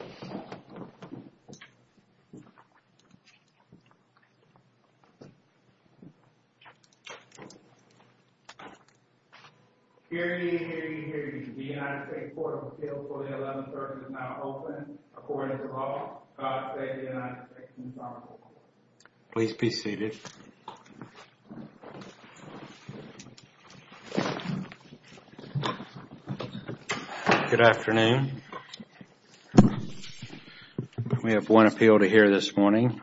Here ye, here ye, here ye. The United States Port of Appeal for the 11th Circuit is now open. According to law, God save the United States and his honorable court. Good afternoon. We have one appeal to hear this morning.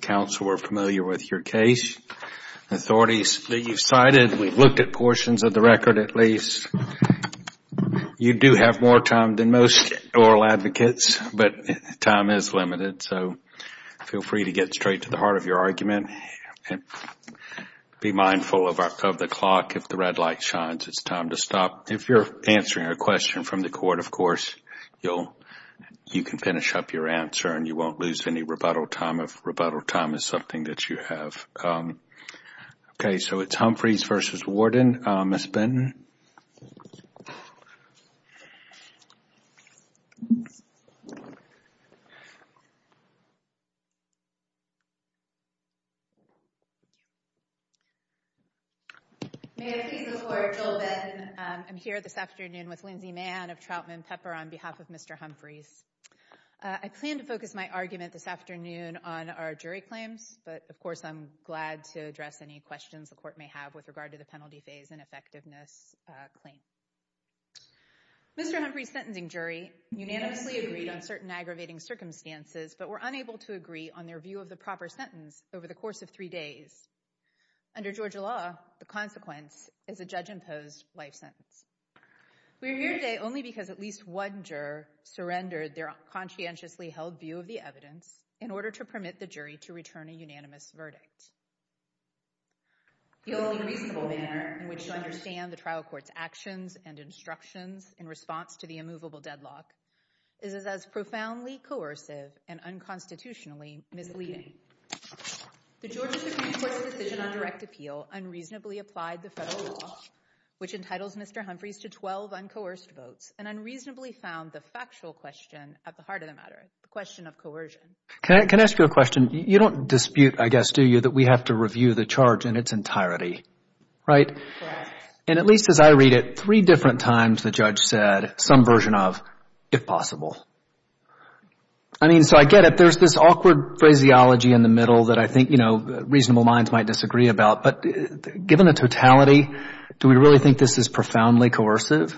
Counsel were familiar with your case. Authorities that you cited, we've looked at portions of the record at least. You do have more time than most oral advocates, but time is limited, so feel free to get straight to the heart of your argument. Be mindful of the clock. If the red light shines, it's time to stop. If you're answering a question from the court, of course, you can finish up your answer and you won't lose any rebuttal time if rebuttal time is something that you have. Okay, so it's Humphreys v. Warden. Ms. Benton. I'm here this afternoon with Lindsay Mann of Trautman Pepper on behalf of Mr. Humphreys. I plan to focus my argument this afternoon on our jury claims, but of course I'm glad to address any questions the court may have with regard to the penalty phase and effectiveness claim. Mr. Humphreys' sentencing jury unanimously agreed on certain aggravating circumstances, but were unable to agree on their view of the proper sentence over the course of three days. Under Georgia law, the consequence is a judge-imposed life sentence. We are here today only because at least one juror surrendered their conscientiously held view of the evidence in order to permit the jury to return a unanimous verdict. The only reasonable manner in which to understand the trial court's actions and instructions in response to the immovable deadlock is as profoundly coercive and unconstitutionally misleading. The Georgia Supreme Court's decision on direct appeal unreasonably applied the federal law, which entitles Mr. Humphreys to 12 uncoerced votes, and unreasonably found the factual question at the heart of the matter, the question of coercion. Can I ask you a question? You don't dispute, I guess, do you, that we have to review the charge in its entirety, right? Correct. And at least as I read it, three different times the judge said some version of, if possible. I mean, so I get it. There's this awkward phraseology in the middle that I think, you know, reasonable minds might disagree about. But given the totality, do we really think this is profoundly coercive?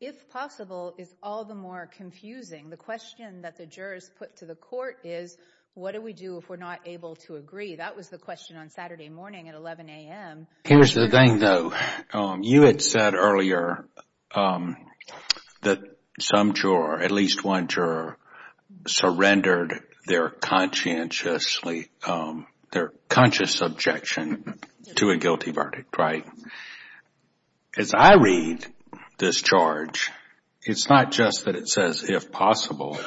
If possible is all the more confusing. The question that the jurors put to the court is, what do we do if we're not able to agree? That was the question on Saturday morning at 11 a.m. Here's the thing, though. You had said earlier that some juror, at least one juror, surrendered their conscientiously, their conscious objection to a guilty verdict, right? As I read this charge, it's not just that it says, if possible.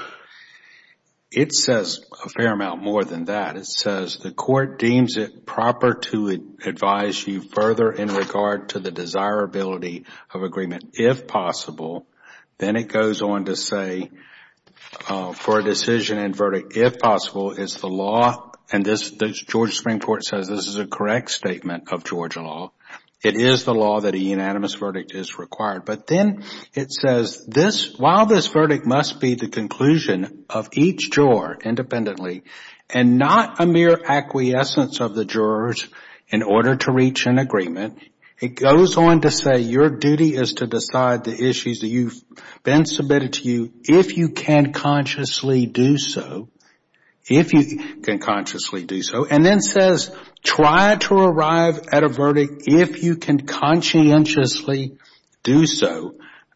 It says a fair amount more than that. It says, the court deems it proper to advise you further in regard to the desirability of agreement. If possible, then it goes on to say, for a decision and verdict, if possible, it's the law. And the Georgia Supreme Court says this is a correct statement of Georgia law. It is the law that a unanimous verdict is required. But then it says, while this verdict must be the conclusion of each juror independently and not a mere acquiescence of the jurors in order to reach an agreement, it goes on to say your duty is to decide the issues that have been submitted to you if you can consciously do so. If you can consciously do so. And then it says, try to arrive at a verdict if you can conscientiously do so.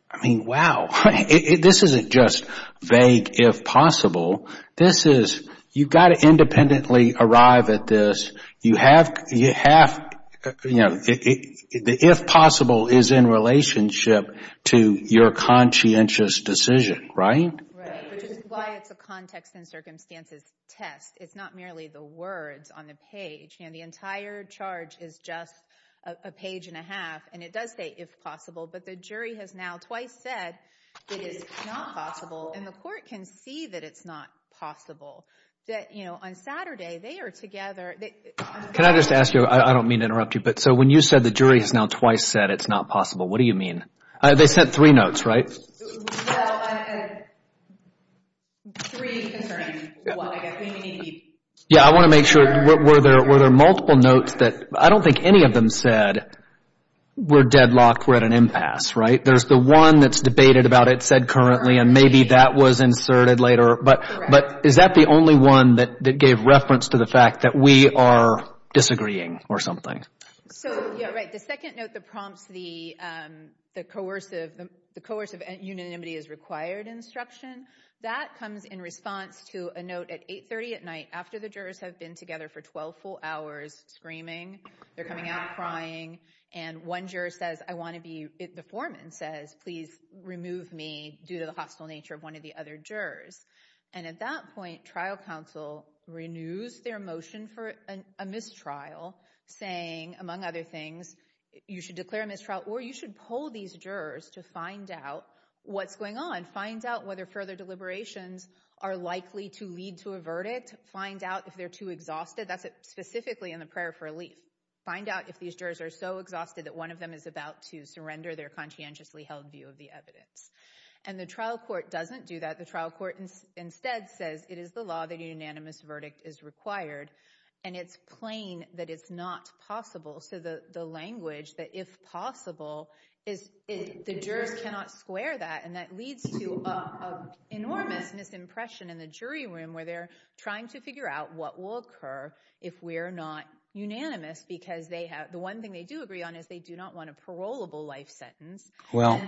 I mean, wow. This isn't just vague, if possible. This is, you've got to independently arrive at this. You have, you know, the if possible is in relationship to your conscientious decision, right? Right. Which is why it's a context and circumstances test. It's not merely the words on the page. And the entire charge is just a page and a half. And it does say if possible, but the jury has now twice said it is not possible. And the court can see that it's not possible that, you know, on Saturday they are together. Can I just ask you, I don't mean to interrupt you, but so when you said the jury has now twice said it's not possible, what do you mean? They sent three notes, right? Well, three concerning what I guess. Yeah, I want to make sure, were there multiple notes that, I don't think any of them said we're deadlocked, we're at an impasse, right? There's the one that's debated about it said currently, and maybe that was inserted later. But is that the only one that gave reference to the fact that we are disagreeing or something? So, yeah, right. The second note that prompts the coercive, the coercive unanimity is required instruction, that comes in response to a note at 830 at night after the jurors have been together for 12 full hours screaming. They're coming out crying. And one juror says, I want to be, the foreman says, please remove me due to the hostile nature of one of the other jurors. And at that point, trial counsel renews their motion for a mistrial saying, among other things, you should declare a mistrial or you should pull these jurors to find out what's going on. Find out whether further deliberations are likely to lead to a verdict. Find out if they're too exhausted. That's specifically in the prayer for relief. Find out if these jurors are so exhausted that one of them is about to surrender their conscientiously held view of the evidence. And the trial court doesn't do that. The trial court instead says it is the law that a unanimous verdict is required. And it's plain that it's not possible. So the language that if possible, the jurors cannot square that. And that leads to an enormous misimpression in the jury room where they're trying to figure out what will occur if we're not unanimous. Because the one thing they do agree on is they do not want a parolable life sentence. Well,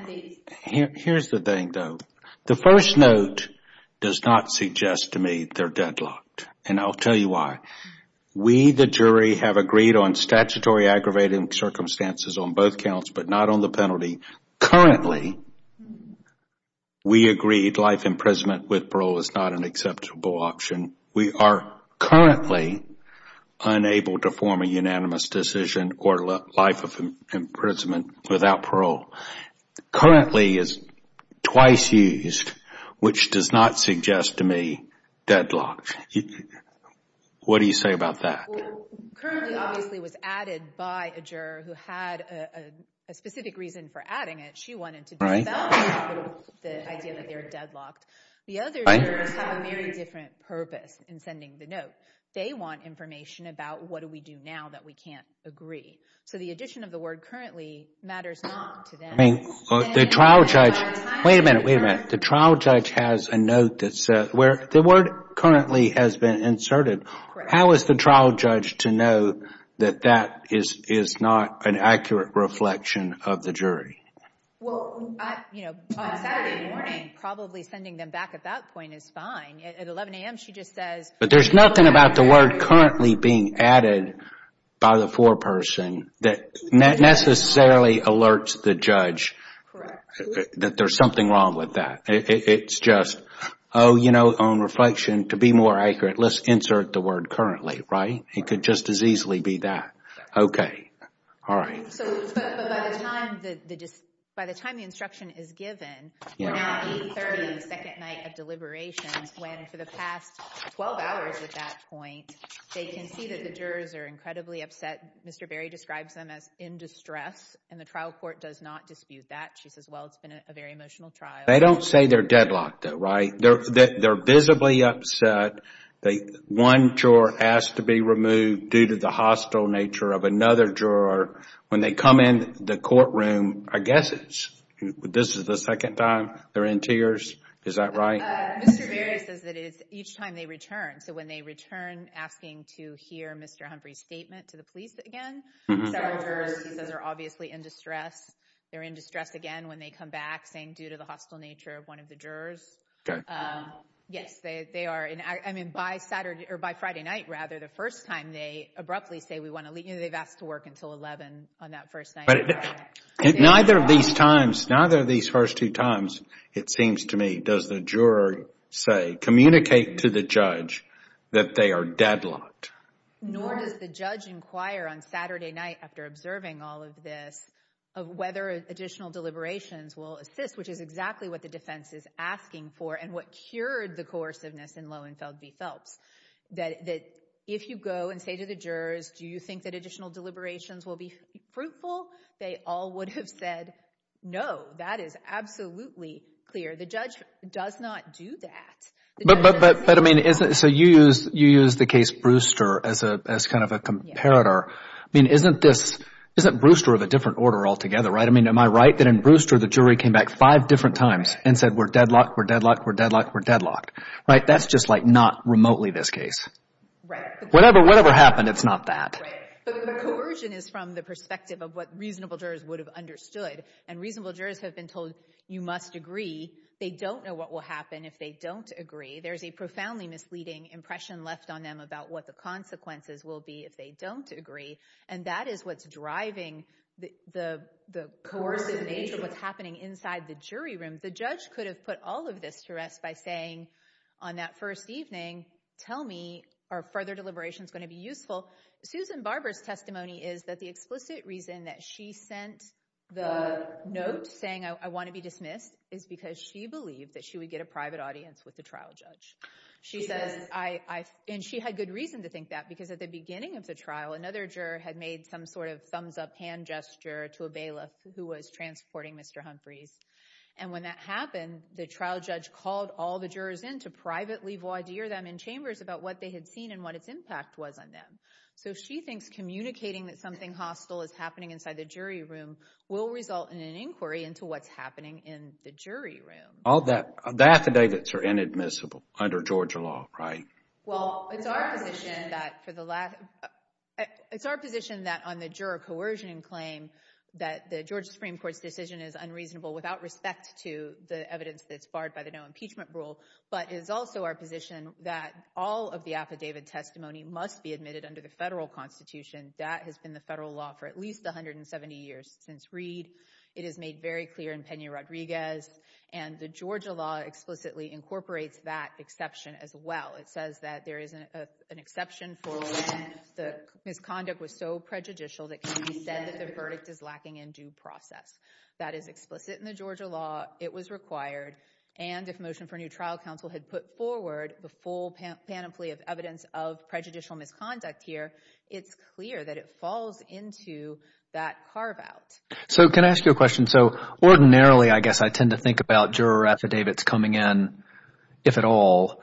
here's the thing, though. The first note does not suggest to me they're deadlocked. And I'll tell you why. We, the jury, have agreed on statutory aggravated circumstances on both counts but not on the penalty. Currently, we agreed life imprisonment with parole is not an acceptable option. We are currently unable to form a unanimous decision or life of imprisonment without parole. Currently is twice used, which does not suggest to me deadlocked. What do you say about that? Well, currently, obviously, it was added by a juror who had a specific reason for adding it. She wanted to disavow the idea that they were deadlocked. The other jurors have a very different purpose in sending the note. They want information about what do we do now that we can't agree. So the addition of the word currently matters not to them. I mean, the trial judge, wait a minute, wait a minute. The trial judge has a note that says where the word currently has been inserted. How is the trial judge to know that that is not an accurate reflection of the jury? Well, you know, on Saturday morning, probably sending them back at that point is fine. At 11 a.m., she just says. But there's nothing about the word currently being added by the foreperson that necessarily alerts the judge that there's something wrong with that. It's just, oh, you know, on reflection, to be more accurate, let's insert the word currently, right? It could just as easily be that. Okay. All right. But by the time the instruction is given, we're now 830, the second night of deliberations, when for the past 12 hours at that point, they can see that the jurors are incredibly upset. Mr. Berry describes them as in distress, and the trial court does not dispute that. She says, well, it's been a very emotional trial. They don't say they're deadlocked, though, right? They're visibly upset. One juror asked to be removed due to the hostile nature of another juror. When they come in the courtroom, I guess this is the second time they're in tears. Is that right? Mr. Berry says that it's each time they return. So when they return, asking to hear Mr. Humphrey's statement to the police again. Several jurors, he says, are obviously in distress. They're in distress again when they come back, saying due to the hostile nature of one of the jurors. Yes, they are. I mean, by Friday night, rather, the first time they abruptly say we want to leave, they've asked to work until 11 on that first night. Neither of these times, neither of these first two times, it seems to me, does the juror say, communicate to the judge that they are deadlocked. Nor does the judge inquire on Saturday night after observing all of this whether additional deliberations will assist, which is exactly what the defense is asking for and what cured the coerciveness in Loewenfeld v. Phelps. That if you go and say to the jurors, do you think that additional deliberations will be fruitful? They all would have said no. That is absolutely clear. The judge does not do that. But, I mean, so you use the case Brewster as kind of a comparator. I mean, isn't Brewster of a different order altogether, right? I mean, am I right that in Brewster the jury came back five different times and said we're deadlocked, we're deadlocked, we're deadlocked, we're deadlocked, right? That's just like not remotely this case. Whatever happened, it's not that. But the coercion is from the perspective of what reasonable jurors would have understood. And reasonable jurors have been told you must agree. They don't know what will happen if they don't agree. There's a profoundly misleading impression left on them about what the consequences will be if they don't agree. And that is what's driving the coercive nature of what's happening inside the jury room. The judge could have put all of this to rest by saying on that first evening, tell me are further deliberations going to be useful. Susan Barber's testimony is that the explicit reason that she sent the note saying I want to be dismissed is because she believed that she would get a private audience with the trial judge. And she had good reason to think that because at the beginning of the trial, another juror had made some sort of thumbs up hand gesture to a bailiff who was transporting Mr. Humphreys. And when that happened, the trial judge called all the jurors in to privately voir dire them in chambers about what they had seen and what its impact was on them. So she thinks communicating that something hostile is happening inside the jury room will result in an inquiry into what's happening in the jury room. The affidavits are inadmissible under Georgia law, right? Well, it's our position that on the juror coercion claim that the Georgia Supreme Court's decision is unreasonable without respect to the evidence that's barred by the no impeachment rule. But it is also our position that all of the affidavit testimony must be admitted under the federal constitution. That has been the federal law for at least 170 years. Since Reed, it is made very clear in Pena-Rodriguez. And the Georgia law explicitly incorporates that exception as well. It says that there is an exception for when the misconduct was so prejudicial that can be said that the verdict is lacking in due process. That is explicit in the Georgia law. It was required. And if Motion for a New Trial Council had put forward the full panoply of evidence of prejudicial misconduct here, it's clear that it falls into that carve out. So can I ask you a question? So ordinarily, I guess I tend to think about juror affidavits coming in, if at all,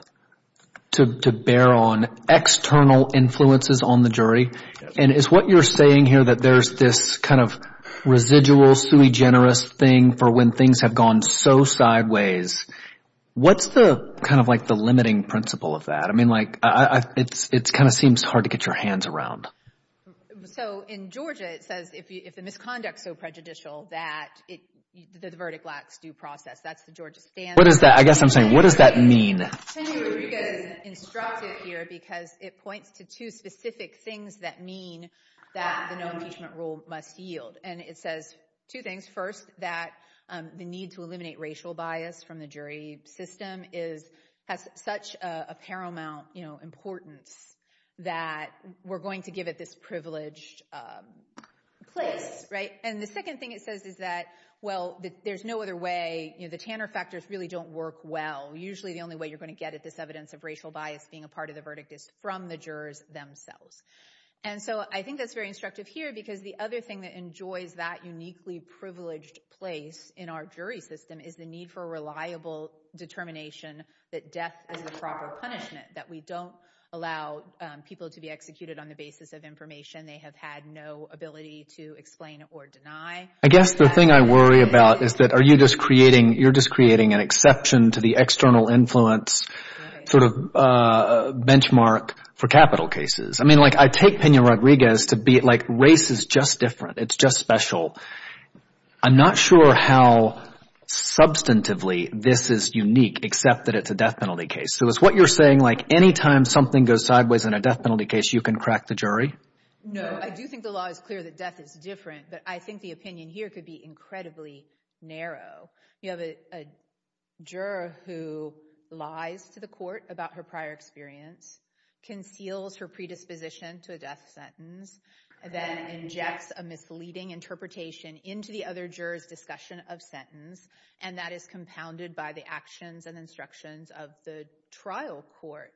to bear on external influences on the jury. And it's what you're saying here that there's this kind of residual sui generis thing for when things have gone so sideways. What's the kind of like the limiting principle of that? I mean, like it kind of seems hard to get your hands around. So in Georgia, it says if the misconduct is so prejudicial that the verdict lacks due process. That's the Georgia standard. What is that? I guess I'm saying what does that mean? Pena-Rodriguez instructs it here because it points to two specific things that mean that the no impeachment rule must yield. And it says two things. First, that the need to eliminate racial bias from the jury system has such a paramount importance that we're going to give it this privileged place. And the second thing it says is that, well, there's no other way. The Tanner factors really don't work well. Usually the only way you're going to get at this evidence of racial bias being a part of the verdict is from the jurors themselves. And so I think that's very instructive here because the other thing that enjoys that uniquely privileged place in our jury system is the need for reliable determination that death is the proper punishment. That we don't allow people to be executed on the basis of information they have had no ability to explain or deny. I guess the thing I worry about is that are you just creating – you're just creating an exception to the external influence sort of benchmark for capital cases. I mean like I take Peña-Rodriguez to be like race is just different. It's just special. I'm not sure how substantively this is unique except that it's a death penalty case. So is what you're saying like any time something goes sideways in a death penalty case, you can crack the jury? No, I do think the law is clear that death is different, but I think the opinion here could be incredibly narrow. You have a juror who lies to the court about her prior experience, conceals her predisposition to a death sentence, then injects a misleading interpretation into the other juror's discussion of sentence, and that is compounded by the actions and instructions of the trial court.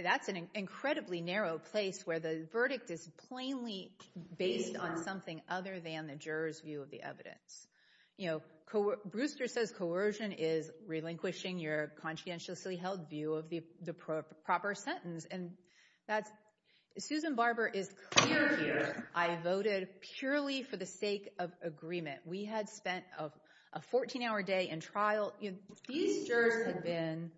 That's an incredibly narrow place where the verdict is plainly based on something other than the juror's view of the evidence. Brewster says coercion is relinquishing your conscientiously held view of the proper sentence, and that's – Susan Barber is clear here. I voted purely for the sake of agreement. We had spent a 14-hour day in trial. These jurors had been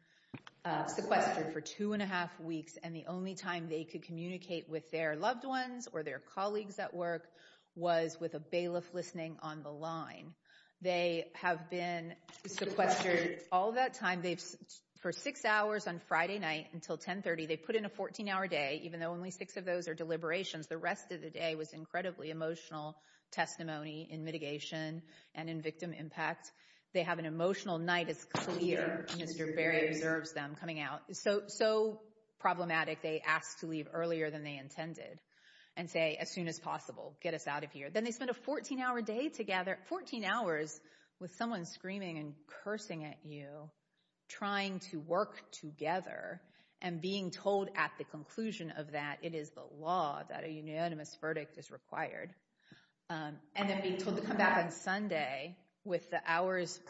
sequestered for two and a half weeks, and the only time they could communicate with their loved ones or their colleagues at work was with a bailiff listening on the line. They have been sequestered all that time. For six hours on Friday night until 1030, they put in a 14-hour day, even though only six of those are deliberations. The rest of the day was incredibly emotional testimony in mitigation and in victim impact. They have an emotional night. It's clear. Mr. Berry observes them coming out. So problematic, they ask to leave earlier than they intended and say, as soon as possible, get us out of here. Then they spent a 14-hour day together, 14 hours with someone screaming and cursing at you, trying to work together and being told at the conclusion of that it is the law, that a unanimous verdict is required, and then being told to come back on Sunday with the hours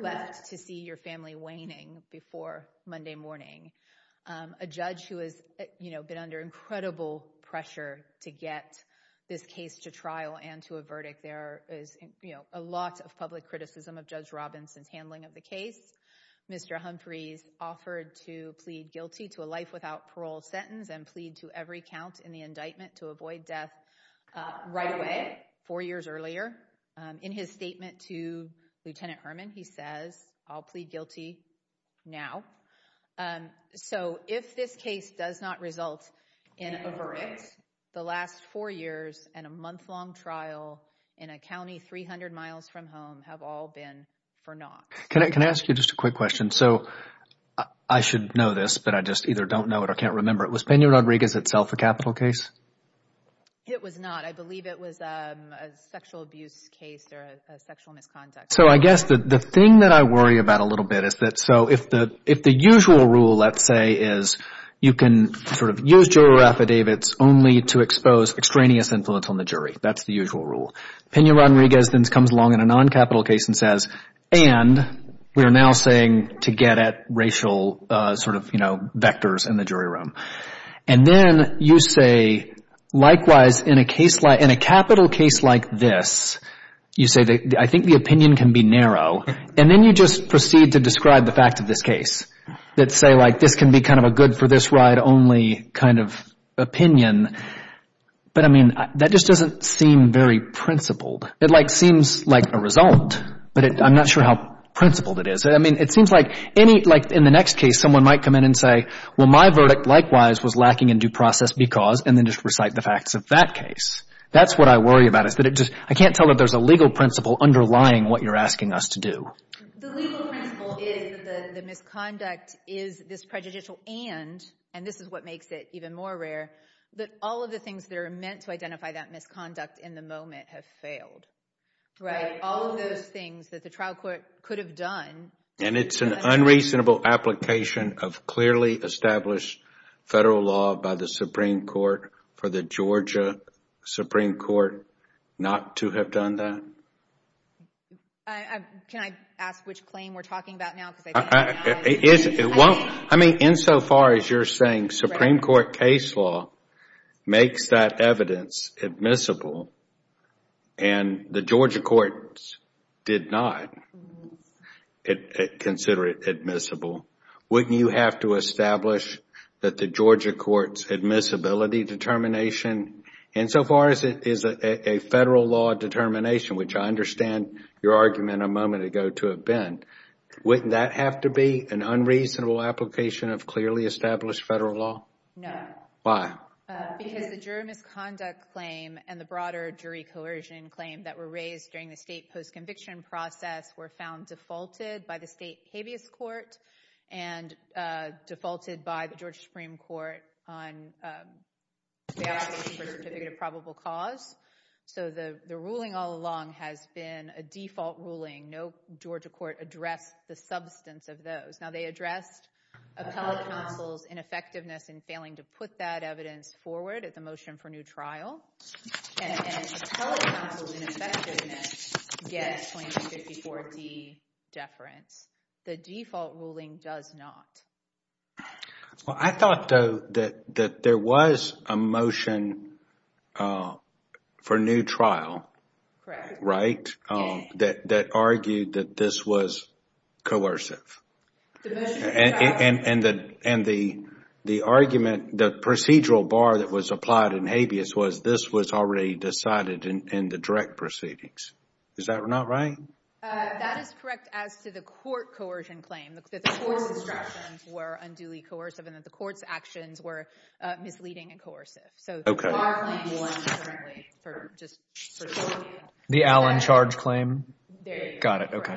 left to see your family waning before Monday morning. A judge who has been under incredible pressure to get this case to trial and to a verdict, there is a lot of public criticism of Judge Robinson's handling of the case. Mr. Humphreys offered to plead guilty to a life without parole sentence and plead to every count in the indictment to avoid death right away, four years earlier. In his statement to Lieutenant Herman, he says, I'll plead guilty now. So if this case does not result in a verdict, the last four years and a month-long trial in a county 300 miles from home have all been for naught. Can I ask you just a quick question? So I should know this, but I just either don't know it or can't remember it. Was Pena-Rodriguez itself a capital case? It was not. I believe it was a sexual abuse case or a sexual misconduct case. So I guess the thing that I worry about a little bit is that so if the usual rule, let's say, is you can sort of use juror affidavits only to expose extraneous influence on the jury, that's the usual rule. Pena-Rodriguez then comes along in a non-capital case and says, and we are now saying to get at racial sort of, you know, vectors in the jury room. And then you say, likewise, in a case like, in a capital case like this, you say, I think the opinion can be narrow. And then you just proceed to describe the fact of this case that say, like, this can be kind of a good-for-this-ride-only kind of opinion. But, I mean, that just doesn't seem very principled. It, like, seems like a result, but I'm not sure how principled it is. I mean, it seems like any, like, in the next case, someone might come in and say, well, my verdict, likewise, was lacking in due process because, and then just recite the facts of that case. That's what I worry about is that it just, I can't tell that there's a legal principle underlying what you're asking us to do. The legal principle is that the misconduct is this prejudicial and, and this is what makes it even more rare, that all of the things that are meant to identify that misconduct in the moment have failed. Right. All of those things that the trial court could have done. And it's an unreasonable application of clearly established federal law by the Supreme Court for the Georgia Supreme Court not to have done that? Can I ask which claim we're talking about now? It won't, I mean, insofar as you're saying Supreme Court case law makes that evidence admissible and the Georgia courts did not consider it admissible, wouldn't you have to establish that the Georgia courts admissibility determination? Insofar as it is a federal law determination, which I understand your argument a moment ago to have been, wouldn't that have to be an unreasonable application of clearly established federal law? No. Why? Because the jury misconduct claim and the broader jury coercion claim that were raised during the state post-conviction process were found defaulted by the state habeas court and defaulted by the Georgia Supreme Court on the application for certificate of probable cause. So the ruling all along has been a default ruling. No Georgia court addressed the substance of those. Now they addressed appellate counsel's ineffectiveness in failing to put that evidence forward at the motion for new trial. And appellate counsel's ineffectiveness gets claim 54D deference. The default ruling does not. Well, I thought though that there was a motion for new trial, right, that argued that this was coercive. And the argument, the procedural bar that was applied in habeas was this was already decided in the direct proceedings. Is that not right? That is correct. As to the court coercion claim that the court's instructions were unduly coercive and that the court's actions were misleading and coercive. So the bar claim won for just the Allen charge claim. Got it. OK.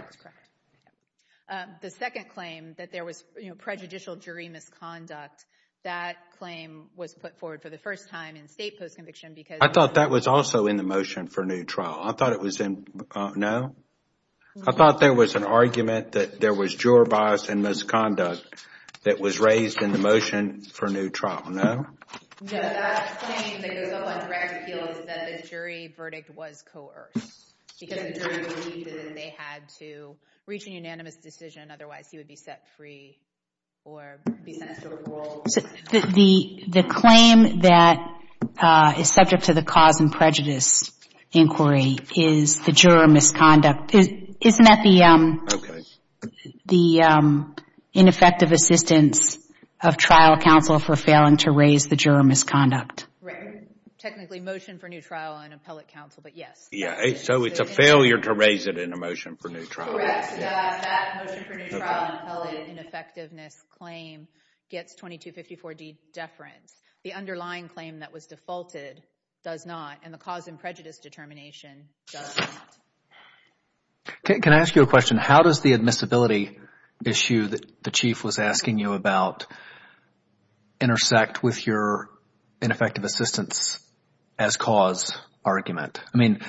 The second claim that there was prejudicial jury misconduct. That claim was put forward for the first time in state post-conviction because I thought that was also in the motion for new trial. I thought it was in. No. I thought there was an argument that there was juror bias and misconduct that was raised in the motion for new trial. No. No, that claim that goes up on direct appeal is that the jury verdict was coerced because the jury believed that they had to reach a unanimous decision. Otherwise, he would be set free or be sent to a parole. The claim that is subject to the cause and prejudice inquiry is the juror misconduct. Isn't that the ineffective assistance of trial counsel for failing to raise the juror misconduct? Right. Technically, motion for new trial on appellate counsel, but yes. So it's a failure to raise it in a motion for new trial. Correct. That motion for new trial on appellate ineffectiveness claim gets 2254D deference. The underlying claim that was defaulted does not, and the cause and prejudice determination does not. Can I ask you a question? How does the admissibility issue that the chief was asking you about intersect with your ineffective assistance as cause argument? I mean,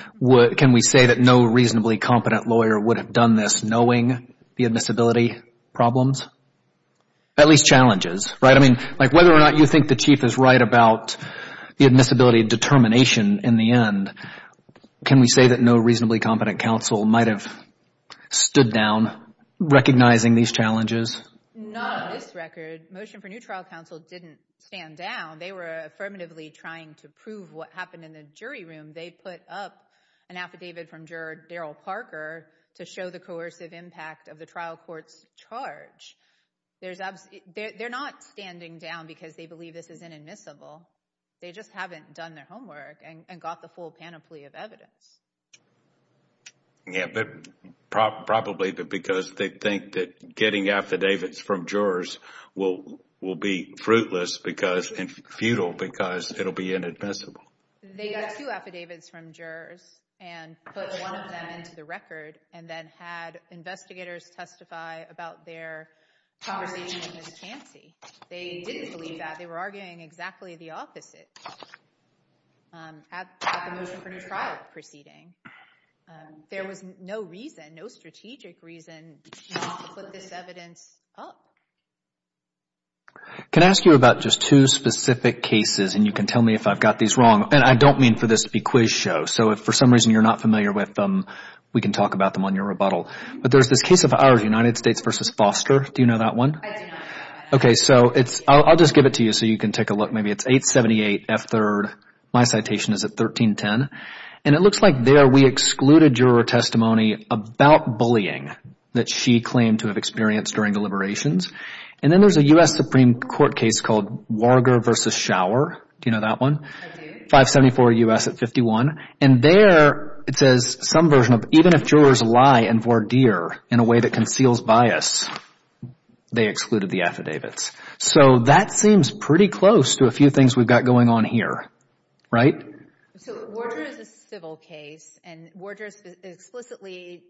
can we say that no reasonably competent lawyer would have done this knowing the admissibility problems? At least challenges, right? I mean, like whether or not you think the chief is right about the admissibility determination in the end, can we say that no reasonably competent counsel might have stood down recognizing these challenges? Not on this record. Motion for new trial counsel didn't stand down. They were affirmatively trying to prove what happened in the jury room. They put up an affidavit from juror Daryl Parker to show the coercive impact of the trial court's charge. They're not standing down because they believe this is inadmissible. They just haven't done their homework and got the full panoply of evidence. Yeah, but probably because they think that getting affidavits from jurors will be fruitless and futile because it will be inadmissible. They got two affidavits from jurors and put one of them into the record and then had investigators testify about their conversation in the vacancy. They didn't believe that. They were arguing exactly the opposite at the motion for new trial proceeding. There was no reason, no strategic reason not to put this evidence up. Can I ask you about just two specific cases and you can tell me if I've got these wrong? And I don't mean for this to be quiz show. So if for some reason you're not familiar with them, we can talk about them on your rebuttal. But there's this case of ours, United States v. Foster. Do you know that one? I do know that one. Okay, so I'll just give it to you so you can take a look. Maybe it's 878 F3rd. My citation is at 1310. And it looks like there we excluded juror testimony about bullying that she claimed to have experienced during deliberations. And then there's a U.S. Supreme Court case called Warger v. Schauer. Do you know that one? I do. 574 U.S. at 51. And there it says some version of even if jurors lie in voir dire in a way that conceals bias, they excluded the affidavits. So that seems pretty close to a few things we've got going on here, right? So Warger is a civil case, and Warger explicitly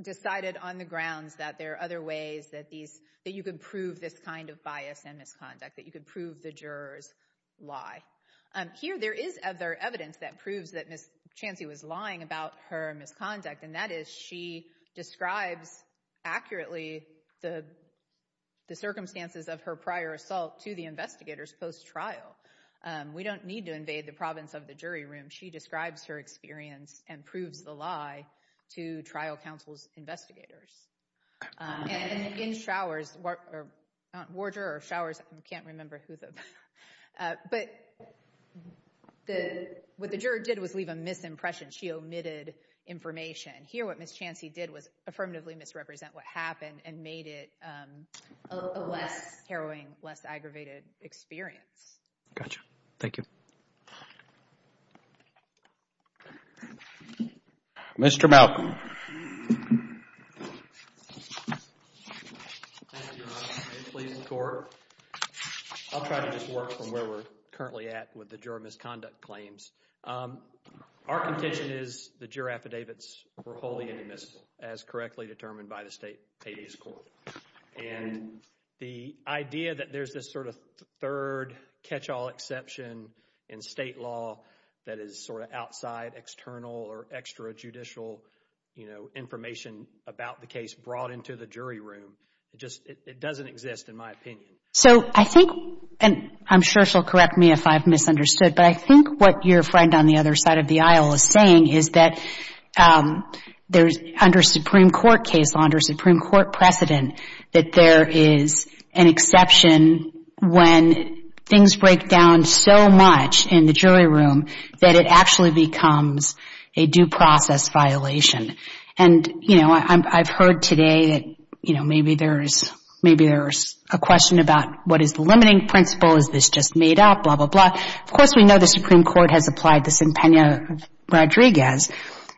decided on the grounds that there are other ways that you could prove this kind of bias and misconduct, that you could prove the jurors lie. Here there is other evidence that proves that Ms. Chancey was lying about her misconduct, and that is she describes accurately the circumstances of her prior assault to the investigators post-trial. We don't need to invade the province of the jury room. She describes her experience and proves the lie to trial counsel's investigators. And in Schauer's, Warger or Schauer's, I can't remember who the, but what the juror did was leave a misimpression. She omitted information. Here what Ms. Chancey did was affirmatively misrepresent what happened and made it a less harrowing, less aggravated experience. Gotcha. Thank you. Mr. Malcolm. Thank you, Your Honor. Please support. I'll try to just work from where we're currently at with the juror misconduct claims. Our contention is the juror affidavits were wholly inadmissible, as correctly determined by the state habeas court. And the idea that there's this sort of third catch-all exception in state law that is sort of outside external or extrajudicial, you know, information about the case brought into the jury room, it doesn't exist in my opinion. So I think, and I'm sure she'll correct me if I've misunderstood, but I think what your friend on the other side of the aisle is saying is that there's, under Supreme Court case law, under Supreme Court precedent, that there is an exception when things break down so much in the jury room that it actually becomes a due process violation. And, you know, I've heard today that, you know, maybe there's a question about what is the limiting principle, is this just made up, blah, blah, blah. Of course, we know the Supreme Court has applied this in Pena-Rodriguez.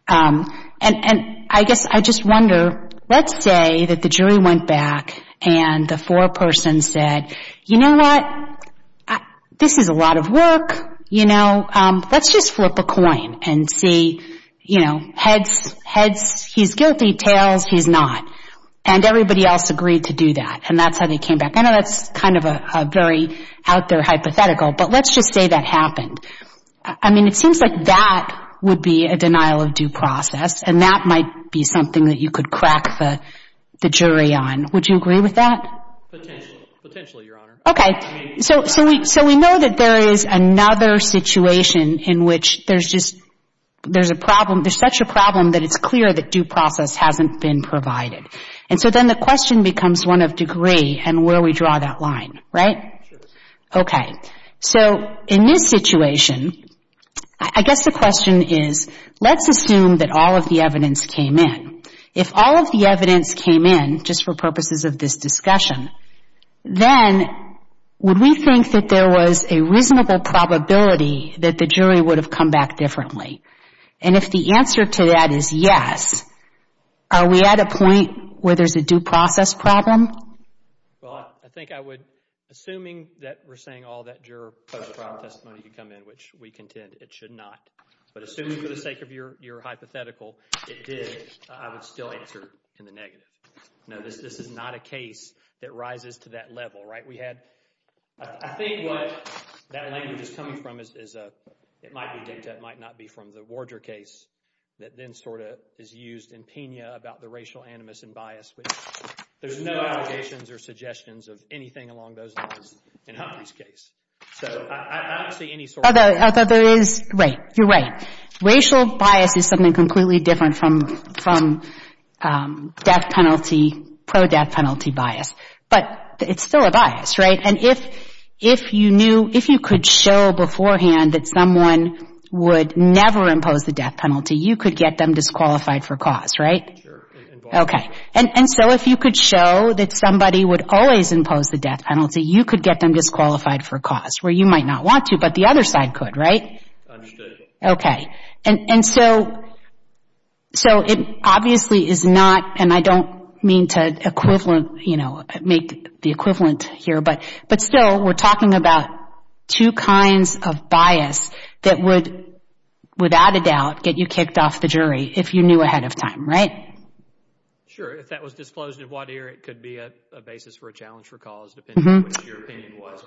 And I guess I just wonder, let's say that the jury went back and the foreperson said, you know what, this is a lot of work, you know, let's just flip a coin and see, you know, heads, he's guilty, tails, he's not. And everybody else agreed to do that, and that's how they came back. I know that's kind of a very out there hypothetical, but let's just say that happened. I mean, it seems like that would be a denial of due process, and that might be something that you could crack the jury on. Would you agree with that? Potentially, Your Honor. Okay. So we know that there is another situation in which there's just a problem, there's such a problem that it's clear that due process hasn't been provided. And so then the question becomes one of degree and where we draw that line, right? Sure. Okay. So in this situation, I guess the question is, let's assume that all of the evidence came in. If all of the evidence came in, just for purposes of this discussion, then would we think that there was a reasonable probability that the jury would have come back differently? And if the answer to that is yes, are we at a point where there's a due process problem? Well, I think I would, assuming that we're saying all that juror post-trial testimony to come in, which we contend it should not, but assuming for the sake of your hypothetical it did, I would still answer in the negative. No, this is not a case that rises to that level, right? I think what that language is coming from is it might be dicta, it might not be from the Warder case that then sort of is used in Pena about the racial animus and bias, but there's no allegations or suggestions of anything along those lines in Humphrey's case. So I don't see any sort of… Although there is, right, you're right. Racial bias is something completely different from death penalty, pro-death penalty bias. But it's still a bias, right? And if you knew, if you could show beforehand that someone would never impose the death penalty, you could get them disqualified for cause, right? Sure. Okay. And so if you could show that somebody would always impose the death penalty, you could get them disqualified for cause, where you might not want to, but the other side could, right? Understood. Okay. And so it obviously is not, and I don't mean to make the equivalent here, but still we're talking about two kinds of bias that would, without a doubt, get you kicked off the jury if you knew ahead of time, right? If that was disclosed in Wadier, it could be a basis for a challenge for cause, depending on what your opinion was.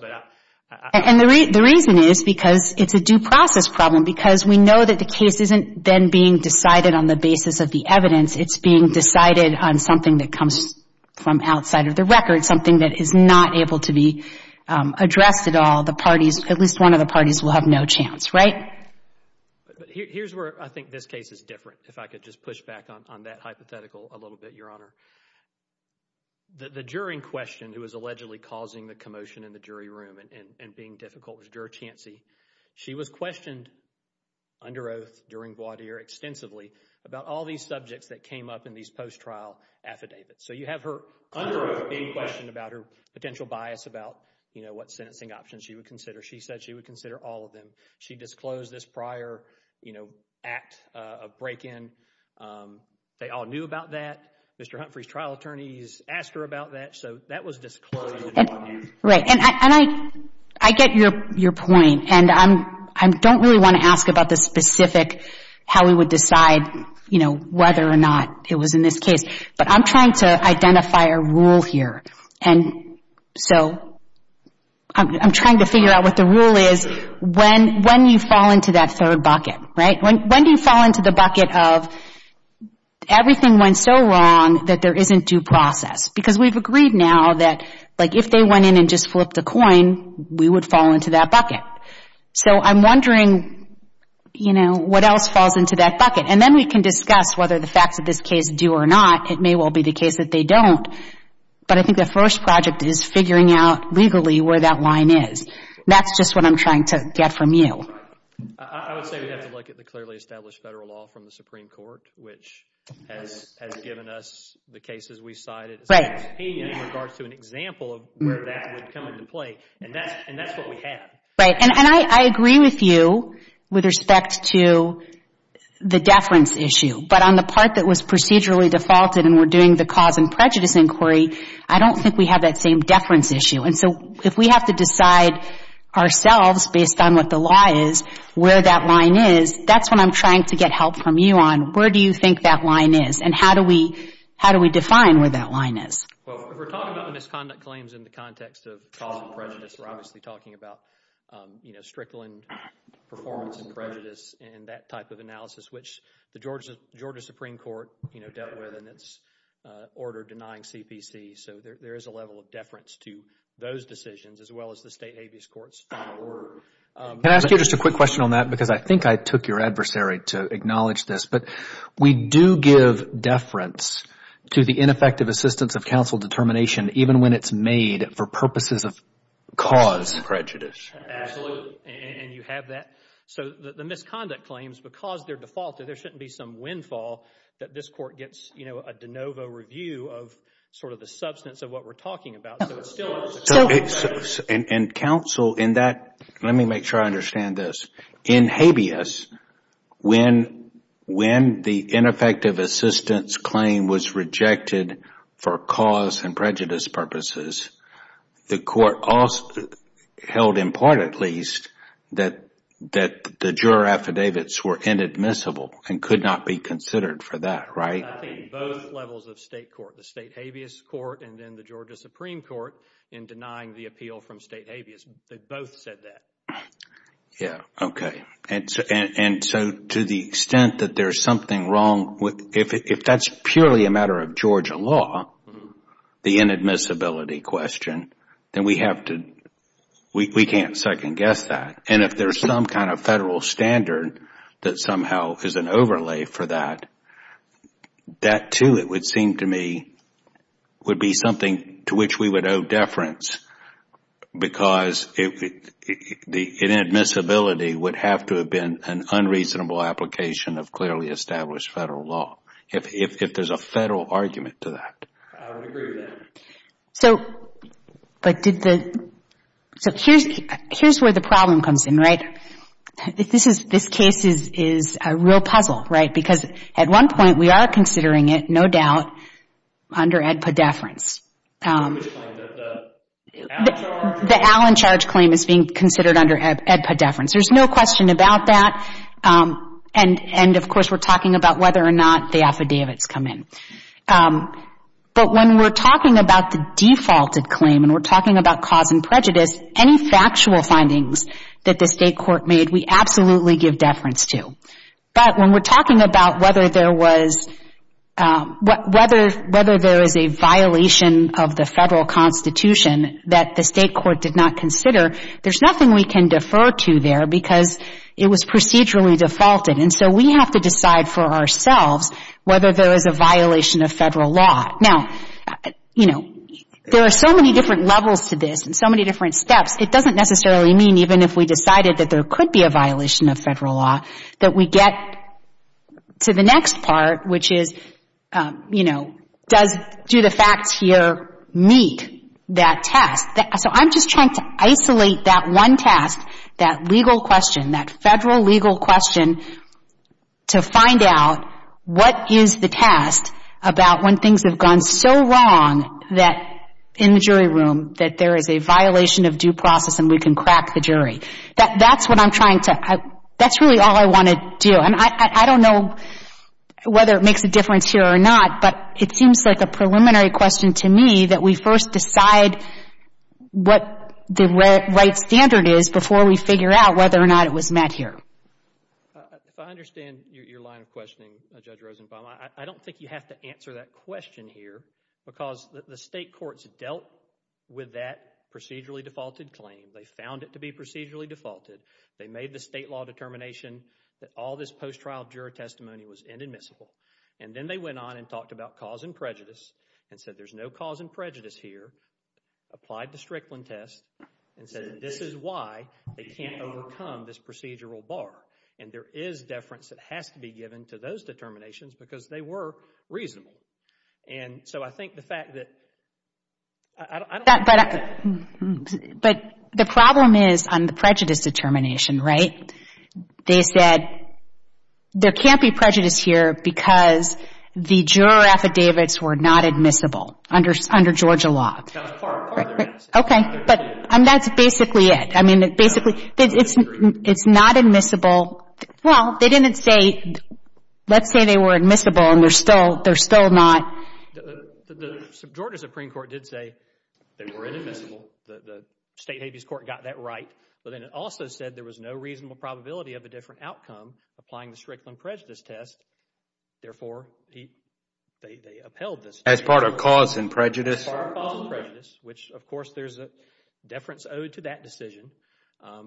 And the reason is because it's a due process problem, because we know that the case isn't then being decided on the basis of the evidence. It's being decided on something that comes from outside of the record, something that is not able to be addressed at all. At least one of the parties will have no chance, right? Here's where I think this case is different, if I could just push back on that hypothetical a little bit, Your Honor. The jury in question who was allegedly causing the commotion in the jury room and being difficult was Juror Chancey. She was questioned under oath during Wadier extensively about all these subjects that came up in these post-trial affidavits. So you have her under oath being questioned about her potential bias about, you know, what sentencing options she would consider. She said she would consider all of them. She disclosed this prior, you know, act of break-in. They all knew about that. Mr. Humphrey's trial attorney has asked her about that. So that was disclosed. Right. And I get your point. And I don't really want to ask about the specific how we would decide, you know, whether or not it was in this case. But I'm trying to identify a rule here. And so I'm trying to figure out what the rule is when you fall into that third bucket, right? When do you fall into the bucket of everything went so wrong that there isn't due process? Because we've agreed now that, like, if they went in and just flipped a coin, we would fall into that bucket. So I'm wondering, you know, what else falls into that bucket. And then we can discuss whether the facts of this case do or not. It may well be the case that they don't. But I think the first project is figuring out legally where that line is. That's just what I'm trying to get from you. I would say we'd have to look at the clearly established federal law from the Supreme Court, which has given us the cases we cited. Right. In regards to an example of where that would come into play. And that's what we have. Right. And I agree with you with respect to the deference issue. But on the part that was procedurally defaulted and we're doing the cause and prejudice inquiry, I don't think we have that same deference issue. And so if we have to decide ourselves, based on what the law is, where that line is, that's what I'm trying to get help from you on. Where do you think that line is? And how do we define where that line is? Well, if we're talking about misconduct claims in the context of cause and prejudice, we're obviously talking about, you know, strickling performance and prejudice and that type of analysis, which the Georgia Supreme Court, you know, dealt with in its order denying CPC. So there is a level of deference to those decisions as well as the state habeas court's final word. Can I ask you just a quick question on that? Because I think I took your adversary to acknowledge this. But we do give deference to the ineffective assistance of counsel determination, even when it's made for purposes of cause and prejudice. Absolutely. And you have that. So the misconduct claims, because they're defaulted, there shouldn't be some windfall that this court gets, you know, a de novo review of sort of the substance of what we're talking about. And counsel in that, let me make sure I understand this. In habeas, when the ineffective assistance claim was rejected for cause and prejudice purposes, the court also held important at least that the juror affidavits were inadmissible and could not be considered for that, right? I think both levels of state court, the state habeas court and then the Georgia Supreme Court, in denying the appeal from state habeas, they both said that. Yeah. Okay. And so to the extent that there's something wrong with, if that's purely a matter of Georgia law, the inadmissibility question, then we have to, we can't second guess that. And if there's some kind of federal standard that somehow is an overlay for that, that too it would seem to me would be something to which we would owe deference because inadmissibility would have to have been an unreasonable application of clearly established federal law, if there's a federal argument to that. I would agree with that. So, but did the, so here's where the problem comes in, right? This is, this case is a real puzzle, right? Because at one point we are considering it, no doubt, under EDPA deference. The Allen charge claim is being considered under EDPA deference. There's no question about that. And, of course, we're talking about whether or not the affidavits come in. But when we're talking about the defaulted claim and we're talking about cause and prejudice, any factual findings that the state court made we absolutely give deference to. But when we're talking about whether there was, whether there is a violation of the federal constitution that the state court did not consider, there's nothing we can defer to there because it was procedurally defaulted. And so we have to decide for ourselves whether there is a violation of federal law. Now, you know, there are so many different levels to this and so many different steps, it doesn't necessarily mean even if we decided that there could be a violation of federal law that we get to the next part, which is, you know, does, do the facts here meet that task? So I'm just trying to isolate that one task, that legal question, that federal legal question to find out what is the task about when things have gone so wrong that in the jury room that there is a violation of due process and we can crack the jury. That's what I'm trying to, that's really all I want to do. And I don't know whether it makes a difference here or not, but it seems like a preliminary question to me that we first decide what the right standard is before we figure out whether or not it was met here. If I understand your line of questioning, Judge Rosenbaum, I don't think you have to answer that question here because the state courts dealt with that procedurally defaulted claim. They found it to be procedurally defaulted. They made the state law determination that all this post-trial jury testimony was inadmissible. And then they went on and talked about cause and prejudice and said there's no cause and prejudice here, applied the Strickland test, and said this is why they can't overcome this procedural bar. And there is deference that has to be given to those determinations because they were reasonable. And so I think the fact that, I don't know. But the problem is on the prejudice determination, right? They said there can't be prejudice here because the juror affidavits were not admissible under Georgia law. That's part of their answer. Okay. But that's basically it. I mean, basically, it's not admissible. Well, they didn't say, let's say they were admissible and they're still not. The Georgia Supreme Court did say they were inadmissible. The state habeas court got that right. But then it also said there was no reasonable probability of a different outcome applying the Strickland prejudice test. Therefore, they upheld this. As part of cause and prejudice? As part of cause and prejudice, which, of course, there's a deference owed to that decision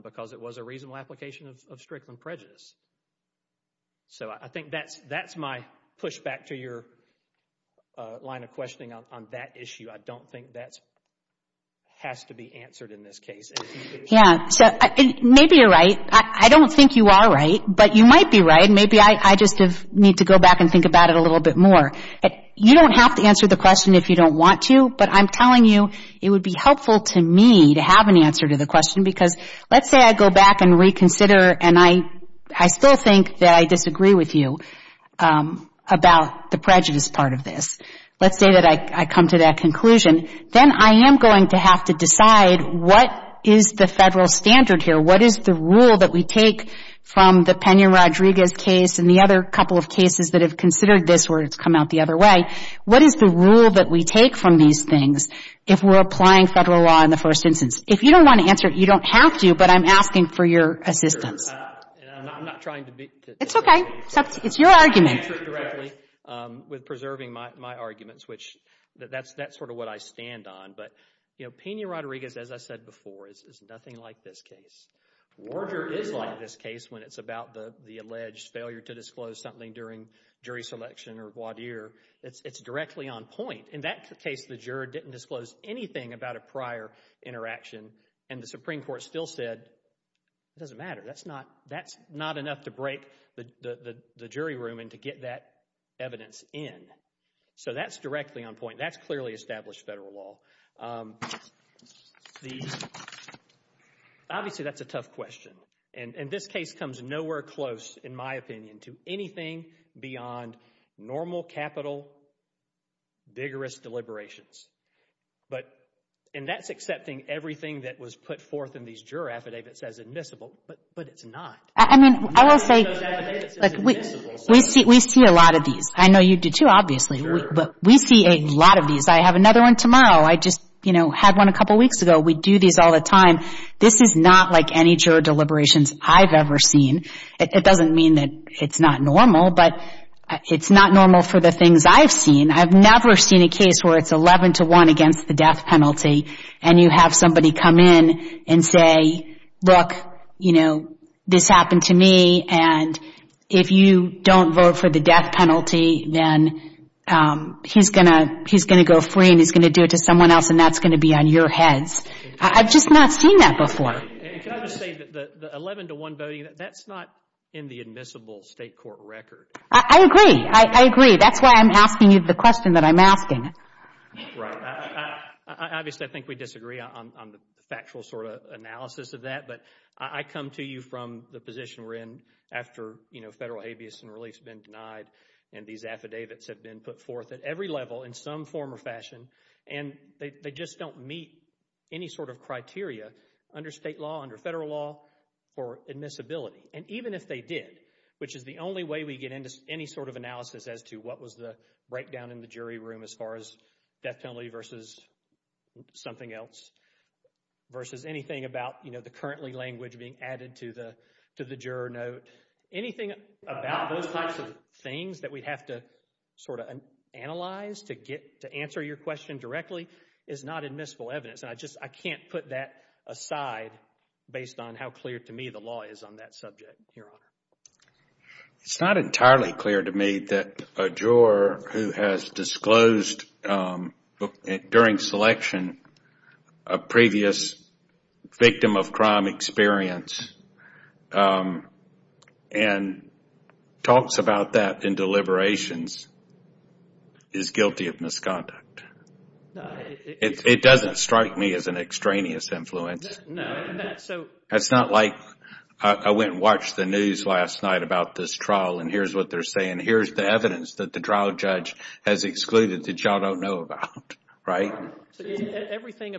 because it was a reasonable application of Strickland prejudice. So I think that's my pushback to your line of questioning on that issue. I don't think that has to be answered in this case. Yeah. Maybe you're right. I don't think you are right, but you might be right. Maybe I just need to go back and think about it a little bit more. You don't have to answer the question if you don't want to, but I'm telling you it would be helpful to me to have an answer to the question because let's say I go back and reconsider and I still think that I disagree with you about the prejudice part of this. Let's say that I come to that conclusion. Then I am going to have to decide what is the federal standard here? What is the rule that we take from the Pena-Rodriguez case and the other couple of cases that have considered this where it's come out the other way? What is the rule that we take from these things if we're applying federal law in the first instance? If you don't want to answer it, you don't have to, but I'm asking for your assistance. I'm not trying to be. It's okay. It's your argument. I can answer it directly with preserving my arguments, which that's sort of what I stand on. But Pena-Rodriguez, as I said before, is nothing like this case. Warder is like this case when it's about the alleged failure to disclose something during jury selection or voir dire. It's directly on point. In that case, the juror didn't disclose anything about a prior interaction, and the Supreme Court still said it doesn't matter. That's not enough to break the jury room and to get that evidence in. So that's directly on point. That's clearly established federal law. Obviously, that's a tough question, and this case comes nowhere close, in my opinion, to anything beyond normal capital, vigorous deliberations. And that's accepting everything that was put forth in these juror affidavits as admissible, but it's not. I mean, I will say we see a lot of these. I know you do, too, obviously, but we see a lot of these. I have another one tomorrow. I just had one a couple weeks ago. We do these all the time. This is not like any juror deliberations I've ever seen. It doesn't mean that it's not normal, but it's not normal for the things I've seen. I've never seen a case where it's 11 to 1 against the death penalty, and you have somebody come in and say, look, you know, this happened to me, and if you don't vote for the death penalty, then he's going to go free, and he's going to do it to someone else, and that's going to be on your heads. I've just not seen that before. Can I just say that the 11 to 1 voting, that's not in the admissible state court record. I agree. I agree. That's why I'm asking you the question that I'm asking. Right. Obviously, I think we disagree on the factual sort of analysis of that, but I come to you from the position we're in after, you know, federal habeas and reliefs have been denied and these affidavits have been put forth at every level in some form or fashion, and they just don't meet any sort of criteria under state law, under federal law for admissibility, and even if they did, which is the only way we get into any sort of analysis as to what was the breakdown in the jury room as far as death penalty versus something else versus anything about, you know, the currently language being added to the juror note. Anything about those types of things that we'd have to sort of analyze to answer your question directly is not admissible evidence, and I just can't put that aside based on how clear to me the law is on that subject, Your Honor. It's not entirely clear to me that a juror who has disclosed during selection a previous victim of crime experience and talks about that in deliberations is guilty of misconduct. It doesn't strike me as an extraneous influence. No. That's not like I went and watched the news last night about this trial and here's what they're saying. Here's the evidence that the trial judge has excluded that y'all don't know about, right? Everything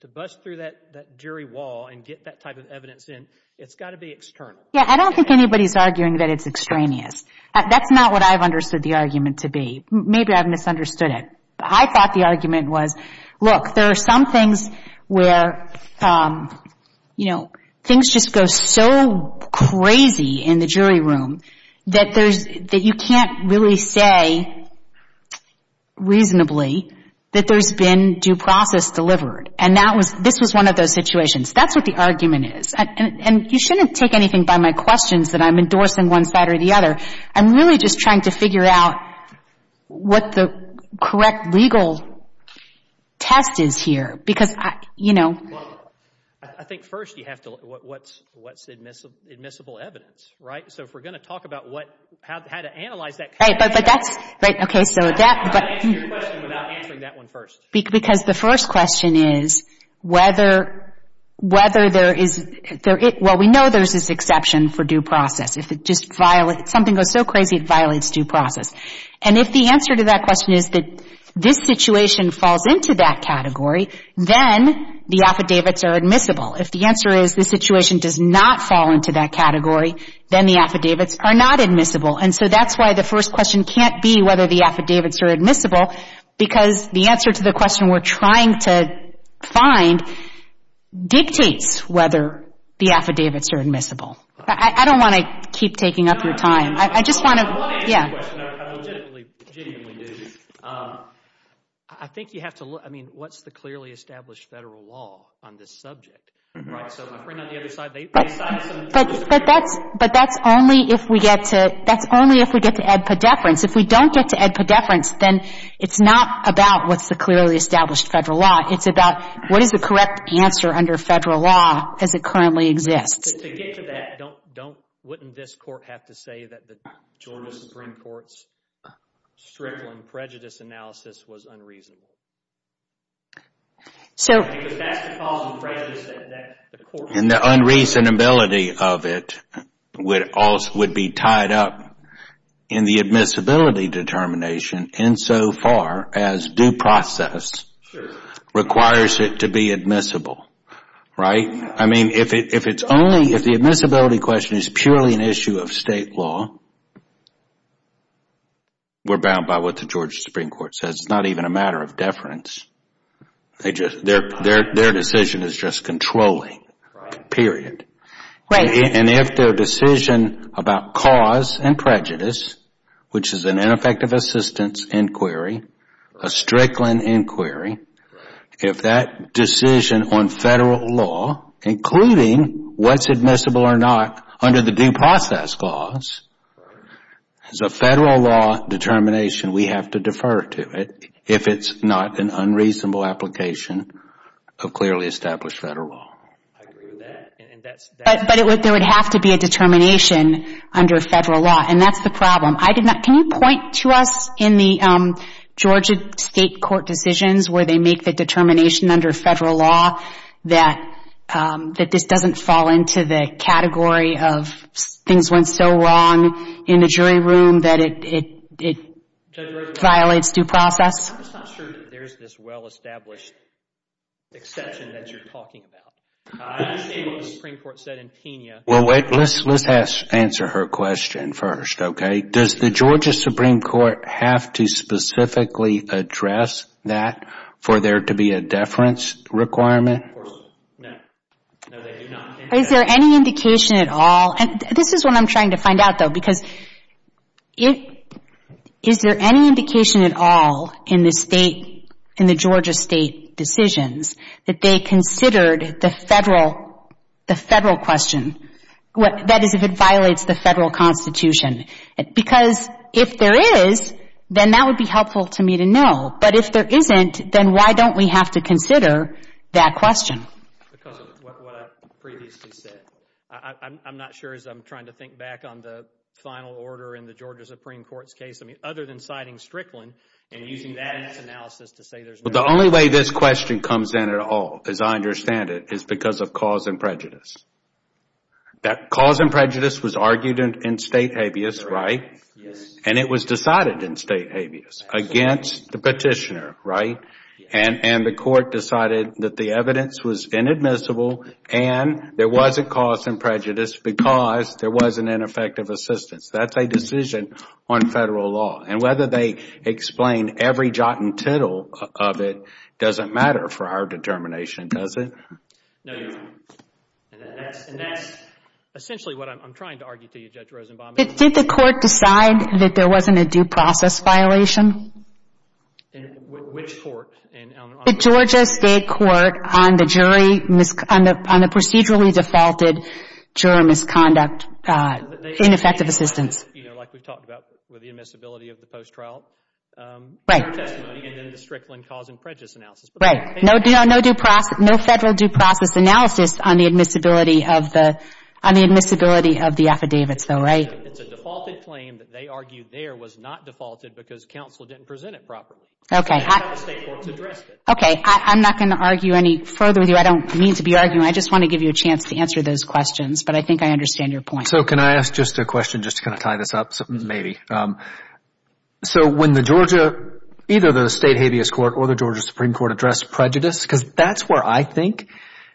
to bust through that jury wall and get that type of evidence in, it's got to be external. Yeah, I don't think anybody's arguing that it's extraneous. That's not what I've understood the argument to be. Maybe I've misunderstood it. I thought the argument was, look, there are some things where, you know, things just go so crazy in the jury room that you can't really say reasonably that there's been due process delivered, and this was one of those situations. That's what the argument is, and you shouldn't take anything by my questions that I'm endorsing one side or the other. I'm really just trying to figure out what the correct legal test is here because, you know. Well, I think first you have to look at what's admissible evidence, right? So if we're going to talk about how to analyze that. Right, but that's... I'm going to answer your question without answering that one first. Because the first question is whether there is... Well, we know there's this exception for due process. If something goes so crazy, it violates due process. And if the answer to that question is that this situation falls into that category, then the affidavits are admissible. If the answer is this situation does not fall into that category, then the affidavits are not admissible. And so that's why the first question can't be whether the affidavits are admissible because the answer to the question we're trying to find dictates whether the affidavits are admissible. I don't want to keep taking up your time. I just want to... I want to answer your question. I legitimately do. I think you have to look... I mean, what's the clearly established federal law on this subject? Right, so my friend on the other side... But that's... But that's only if we get to... That's only if we get to ed pediferance. If we don't get to ed pediferance, then it's not about what's the clearly established federal law. It's about what is the correct answer under federal law as it currently exists. To get to that, don't... Wouldn't this court have to say that the Georgia Supreme Court's Strickland prejudice analysis was unreasonable? So... Because that's the cause of prejudice that the court... And the unreasonability of it would be tied up in the admissibility determination insofar as due process requires it to be admissible, right? I mean, if the admissibility question is purely an issue of state law, we're bound by what the Georgia Supreme Court says. It's not even a matter of deference. Their decision is just controlling, period. And if their decision about cause and prejudice, which is an ineffective assistance inquiry, a Strickland inquiry, if that decision on federal law, including what's admissible or not under the due process clause, is a federal law determination, we have to defer to it if it's not an unreasonable application of clearly established federal law. I agree with that. But there would have to be a determination under federal law, and that's the problem. Can you point to us in the Georgia state court decisions where they make the determination under federal law that this doesn't fall into the category of things went so wrong in the jury room that it violates due process? I'm just not sure that there's this well-established exception that you're talking about. I understand what the Supreme Court said in Pena. Well, wait. Let's answer her question first, okay? Does the Georgia Supreme Court have to specifically address that for there to be a deference requirement? Of course not. No, they do not. Is there any indication at all? This is what I'm trying to find out, though, because is there any indication at all in the Georgia state decisions that they considered the federal question, that is, if it violates the federal constitution? Because if there is, then that would be helpful to me to know. But if there isn't, then why don't we have to consider that question? Because of what I previously said. I'm not sure as I'm trying to think back on the final order in the Georgia Supreme Court's case. I mean, other than citing Strickland and using that analysis to say there's no question. The only way this question comes in at all, as I understand it, is because of cause and prejudice. That cause and prejudice was argued in state habeas, right? Yes. And it was decided in state habeas against the petitioner, right? And the court decided that the evidence was inadmissible and there wasn't cause and prejudice because there wasn't ineffective assistance. That's a decision on federal law. And whether they explain every jot and tittle of it doesn't matter for our determination, does it? No, Your Honor. And that's essentially what I'm trying to argue to you, Judge Rosenbaum. Did the court decide that there wasn't a due process violation? Which court? The Georgia State Court on the procedurally defaulted juror misconduct, ineffective assistance. Like we talked about with the admissibility of the post-trial testimony and then the Strickland cause and prejudice analysis. Right. No federal due process analysis on the admissibility of the affidavits, though, right? It's a defaulted claim that they argued there was not defaulted because counsel didn't present it properly. Okay. I'm not going to argue any further with you. I don't mean to be arguing. I just want to give you a chance to answer those questions. But I think I understand your point. So can I ask just a question just to kind of tie this up, maybe? So when the Georgia, either the State Habeas Court or the Georgia Supreme Court addressed prejudice, because that's where I think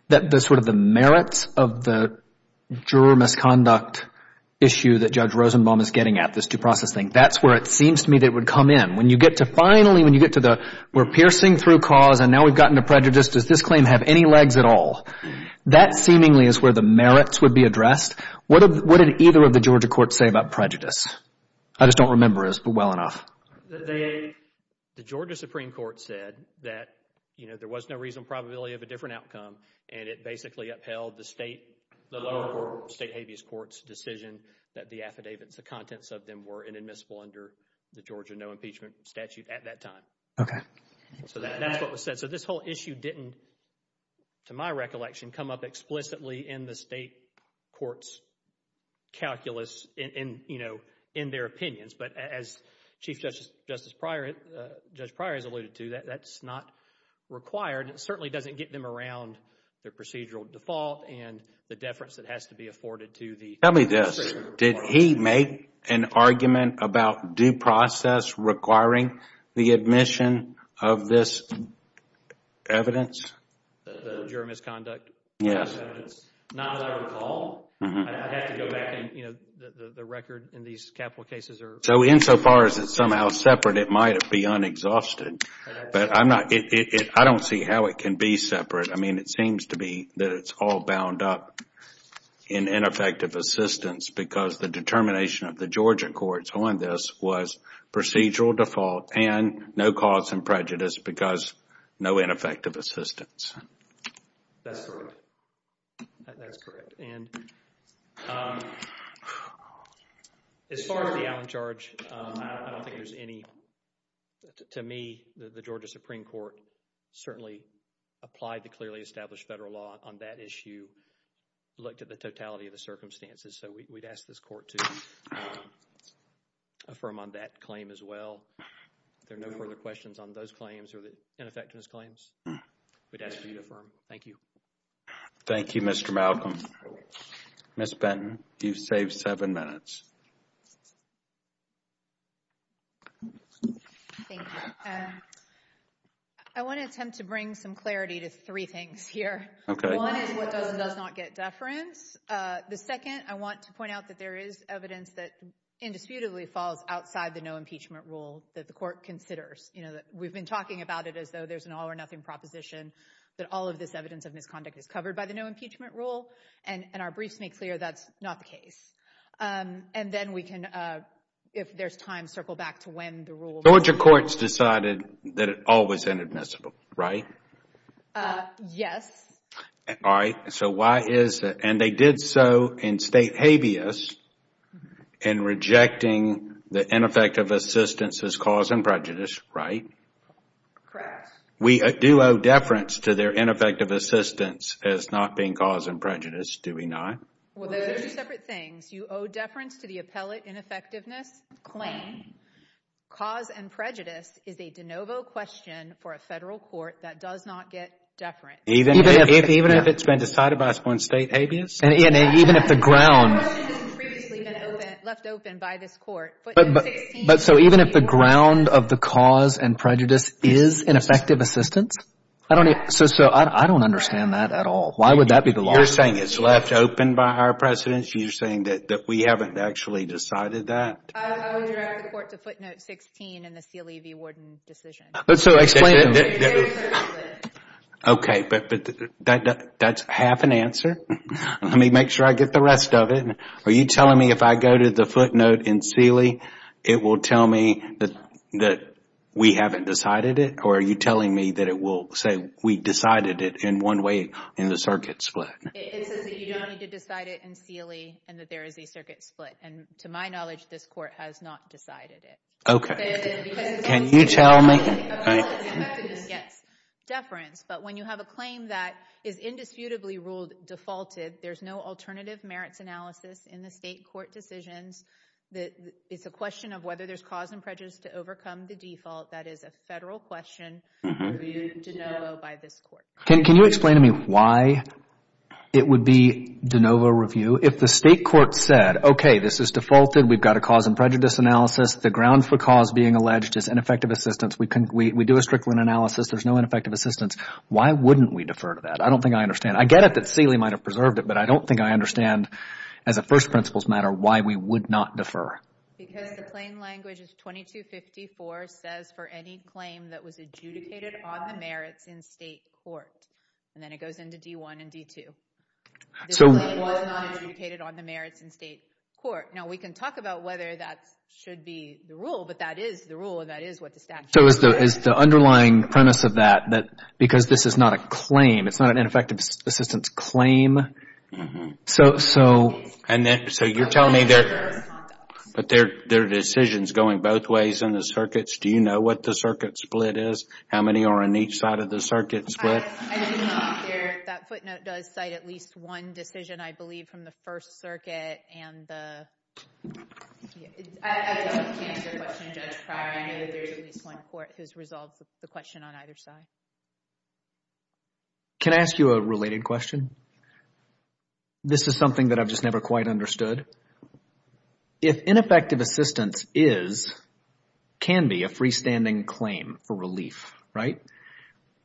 that the sort of the merits of the juror misconduct issue that Judge Rosenbaum is getting at, this due process thing, that's where it seems to me that it would come in. When you get to finally, when you get to the we're piercing through cause and now we've gotten to prejudice, does this claim have any legs at all? That seemingly is where the merits would be addressed. What did either of the Georgia courts say about prejudice? I just don't remember as well enough. The Georgia Supreme Court said that, you know, there was no reasonable probability of a different outcome, and it basically upheld the State Habeas Court's decision that the affidavits, the contents of them were inadmissible under the Georgia no impeachment statute at that time. Okay. So that's what was said. So this whole issue didn't, to my recollection, come up explicitly in the State Court's calculus in, you know, in their opinions. But as Chief Justice Pryor has alluded to, that's not required. It certainly doesn't get them around their procedural default and the deference that has to be afforded to the procedure. Tell me this, did he make an argument about due process requiring the admission of this evidence? The juror misconduct? Yes. Not that I recall. I'd have to go back and, you know, the record in these capital cases are— So insofar as it's somehow separate, it might be unexhausted. But I'm not—I don't see how it can be separate. I mean, it seems to be that it's all bound up in ineffective assistance because the determination of the Georgia courts on this was procedural default and no cause and prejudice because no ineffective assistance. That's correct. That's correct. And as far as the outcharge, I don't think there's any. To me, the Georgia Supreme Court certainly applied the clearly established federal law on that issue, looked at the totality of the circumstances. So we'd ask this court to affirm on that claim as well. If there are no further questions on those claims or the ineffectiveness claims, we'd ask for you to affirm. Thank you. Thank you, Mr. Malcolm. Ms. Benton, you've saved seven minutes. Thank you. I want to attempt to bring some clarity to three things here. Okay. One is what does and does not get deference. The second, I want to point out that there is evidence that indisputably falls outside the no impeachment rule that the court considers. We've been talking about it as though there's an all or nothing proposition, that all of this evidence of misconduct is covered by the no impeachment rule, and our briefs make clear that's not the case. And then we can, if there's time, circle back to when the rule was. Georgia courts decided that it always ended miscible, right? Yes. All right. So why is it? And they did so in state habeas in rejecting the ineffective assistance as cause and prejudice, right? Correct. We do owe deference to their ineffective assistance as not being cause and prejudice, do we not? Well, those are separate things. You owe deference to the appellate ineffectiveness claim. Cause and prejudice is a de novo question for a federal court that does not get deference. Even if it's been decided by one state habeas? And even if the ground. The question hasn't previously been left open by this court. But so even if the ground of the cause and prejudice is ineffective assistance? I don't understand that at all. Why would that be the law? You're saying it's left open by our precedents? You're saying that we haven't actually decided that? I would direct the court to footnote 16 in the CLEV warden decision. So explain it. Okay, but that's half an answer. Let me make sure I get the rest of it. Are you telling me if I go to the footnote in CLEV, it will tell me that we haven't decided it? Or are you telling me that it will say we decided it in one way in the circuit split? It says that you don't need to decide it in CLEV and that there is a circuit split. And to my knowledge, this court has not decided it. Okay. Can you tell me? Yes. Deference. But when you have a claim that is indisputably ruled defaulted, there's no alternative merits analysis in the state court decisions. It's a question of whether there's cause and prejudice to overcome the default. That is a federal question reviewed de novo by this court. Can you explain to me why it would be de novo review? If the state court said, okay, this is defaulted. We've got a cause and prejudice analysis. The grounds for cause being alleged is ineffective assistance. We do a Strickland analysis. There's no ineffective assistance. Why wouldn't we defer to that? I don't think I understand. I get it that Seeley might have preserved it, but I don't think I understand as a first principles matter why we would not defer. Because the plain language is 2254 says for any claim that was adjudicated on the merits in state court. And then it goes into D1 and D2. The claim was not adjudicated on the merits in state court. Now we can talk about whether that should be the rule, but that is the rule and that is what the statute says. So is the underlying premise of that, because this is not a claim, it's not an ineffective assistance claim. So you're telling me there are decisions going both ways in the circuits. Do you know what the circuit split is? How many are on each side of the circuit split? I do not. That footnote does cite at least one decision, I believe, from the First Circuit and the – I don't know if you can answer the question, Judge Pryor. I know that there is at least one court who has resolved the question on either side. Can I ask you a related question? This is something that I've just never quite understood. If ineffective assistance is, can be, a freestanding claim for relief, right,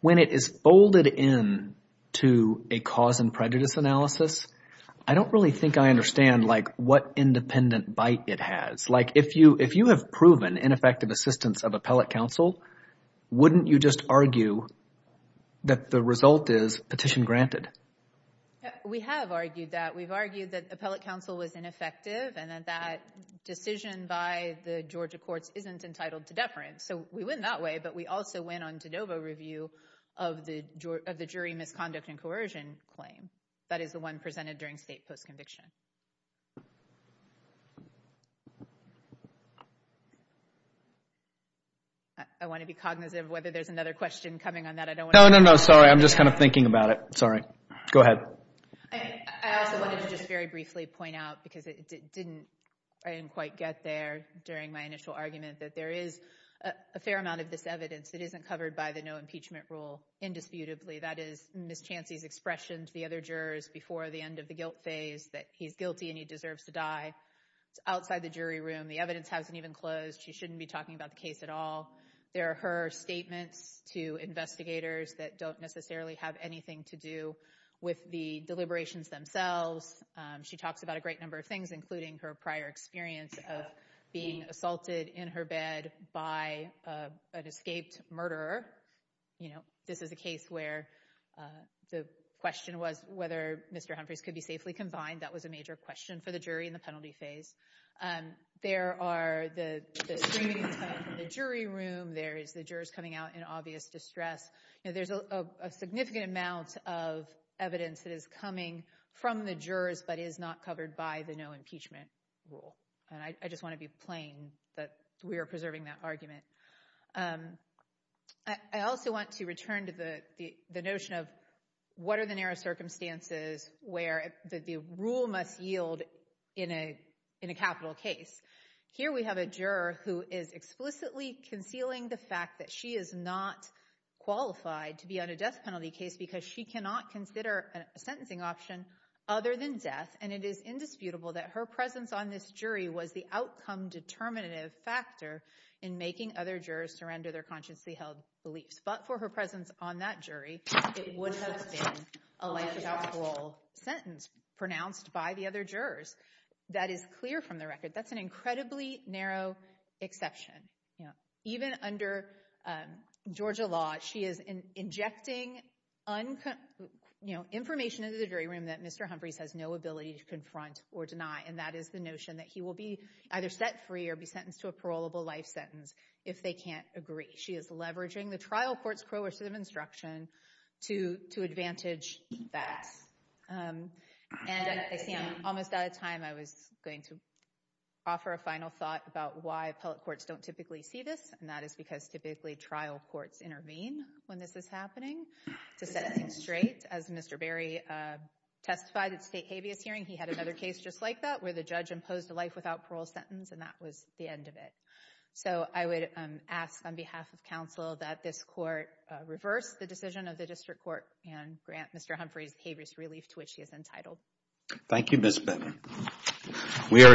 when it is folded in to a cause and prejudice analysis, I don't really think I understand, like, what independent bite it has. Like if you have proven ineffective assistance of appellate counsel, wouldn't you just argue that the result is petition granted? We have argued that. We've argued that appellate counsel was ineffective So we win that way, but we also win on de novo review of the jury misconduct and coercion claim. That is the one presented during state post-conviction. I want to be cognizant of whether there's another question coming on that. I don't want to – No, no, no, sorry. I'm just kind of thinking about it. Sorry. Go ahead. I also wanted to just very briefly point out, because I didn't quite get there during my initial argument, that there is a fair amount of this evidence that isn't covered by the no impeachment rule indisputably. That is Ms. Chancey's expression to the other jurors before the end of the guilt phase that he's guilty and he deserves to die. It's outside the jury room. The evidence hasn't even closed. She shouldn't be talking about the case at all. There are her statements to investigators that don't necessarily have anything to do with the deliberations themselves. She talks about a great number of things, including her prior experience of being assaulted in her bed by an escaped murderer. This is a case where the question was whether Mr. Humphreys could be safely confined. That was a major question for the jury in the penalty phase. There are the statements from the jury room. There is the jurors coming out in obvious distress. There's a significant amount of evidence that is coming from the jurors but is not covered by the no impeachment rule. I just want to be plain that we are preserving that argument. I also want to return to the notion of what are the narrow circumstances where the rule must yield in a capital case. Here we have a juror who is explicitly concealing the fact that she is not qualified to be on a death penalty case because she cannot consider a sentencing option other than death. And it is indisputable that her presence on this jury was the outcome determinative factor in making other jurors surrender their consciously held beliefs. But for her presence on that jury, it would have been a life or death sentence pronounced by the other jurors. That is clear from the record. That's an incredibly narrow exception. Even under Georgia law, she is injecting information into the jury room that Mr. Humphreys has no ability to confront or deny. And that is the notion that he will be either set free or be sentenced to a parolable life sentence if they can't agree. She is leveraging the trial court's coercive instruction to advantage that. And I see I'm almost out of time. I was going to offer a final thought about why appellate courts don't typically see this. And that is because typically trial courts intervene when this is happening to set things straight. As Mr. Berry testified at the state habeas hearing, he had another case just like that where the judge imposed a life without parole sentence. And that was the end of it. So I would ask on behalf of counsel that this court reverse the decision of the district court and grant Mr. Humphreys habeas relief to which he is entitled. Thank you, Ms. Bennett. We are adjourned.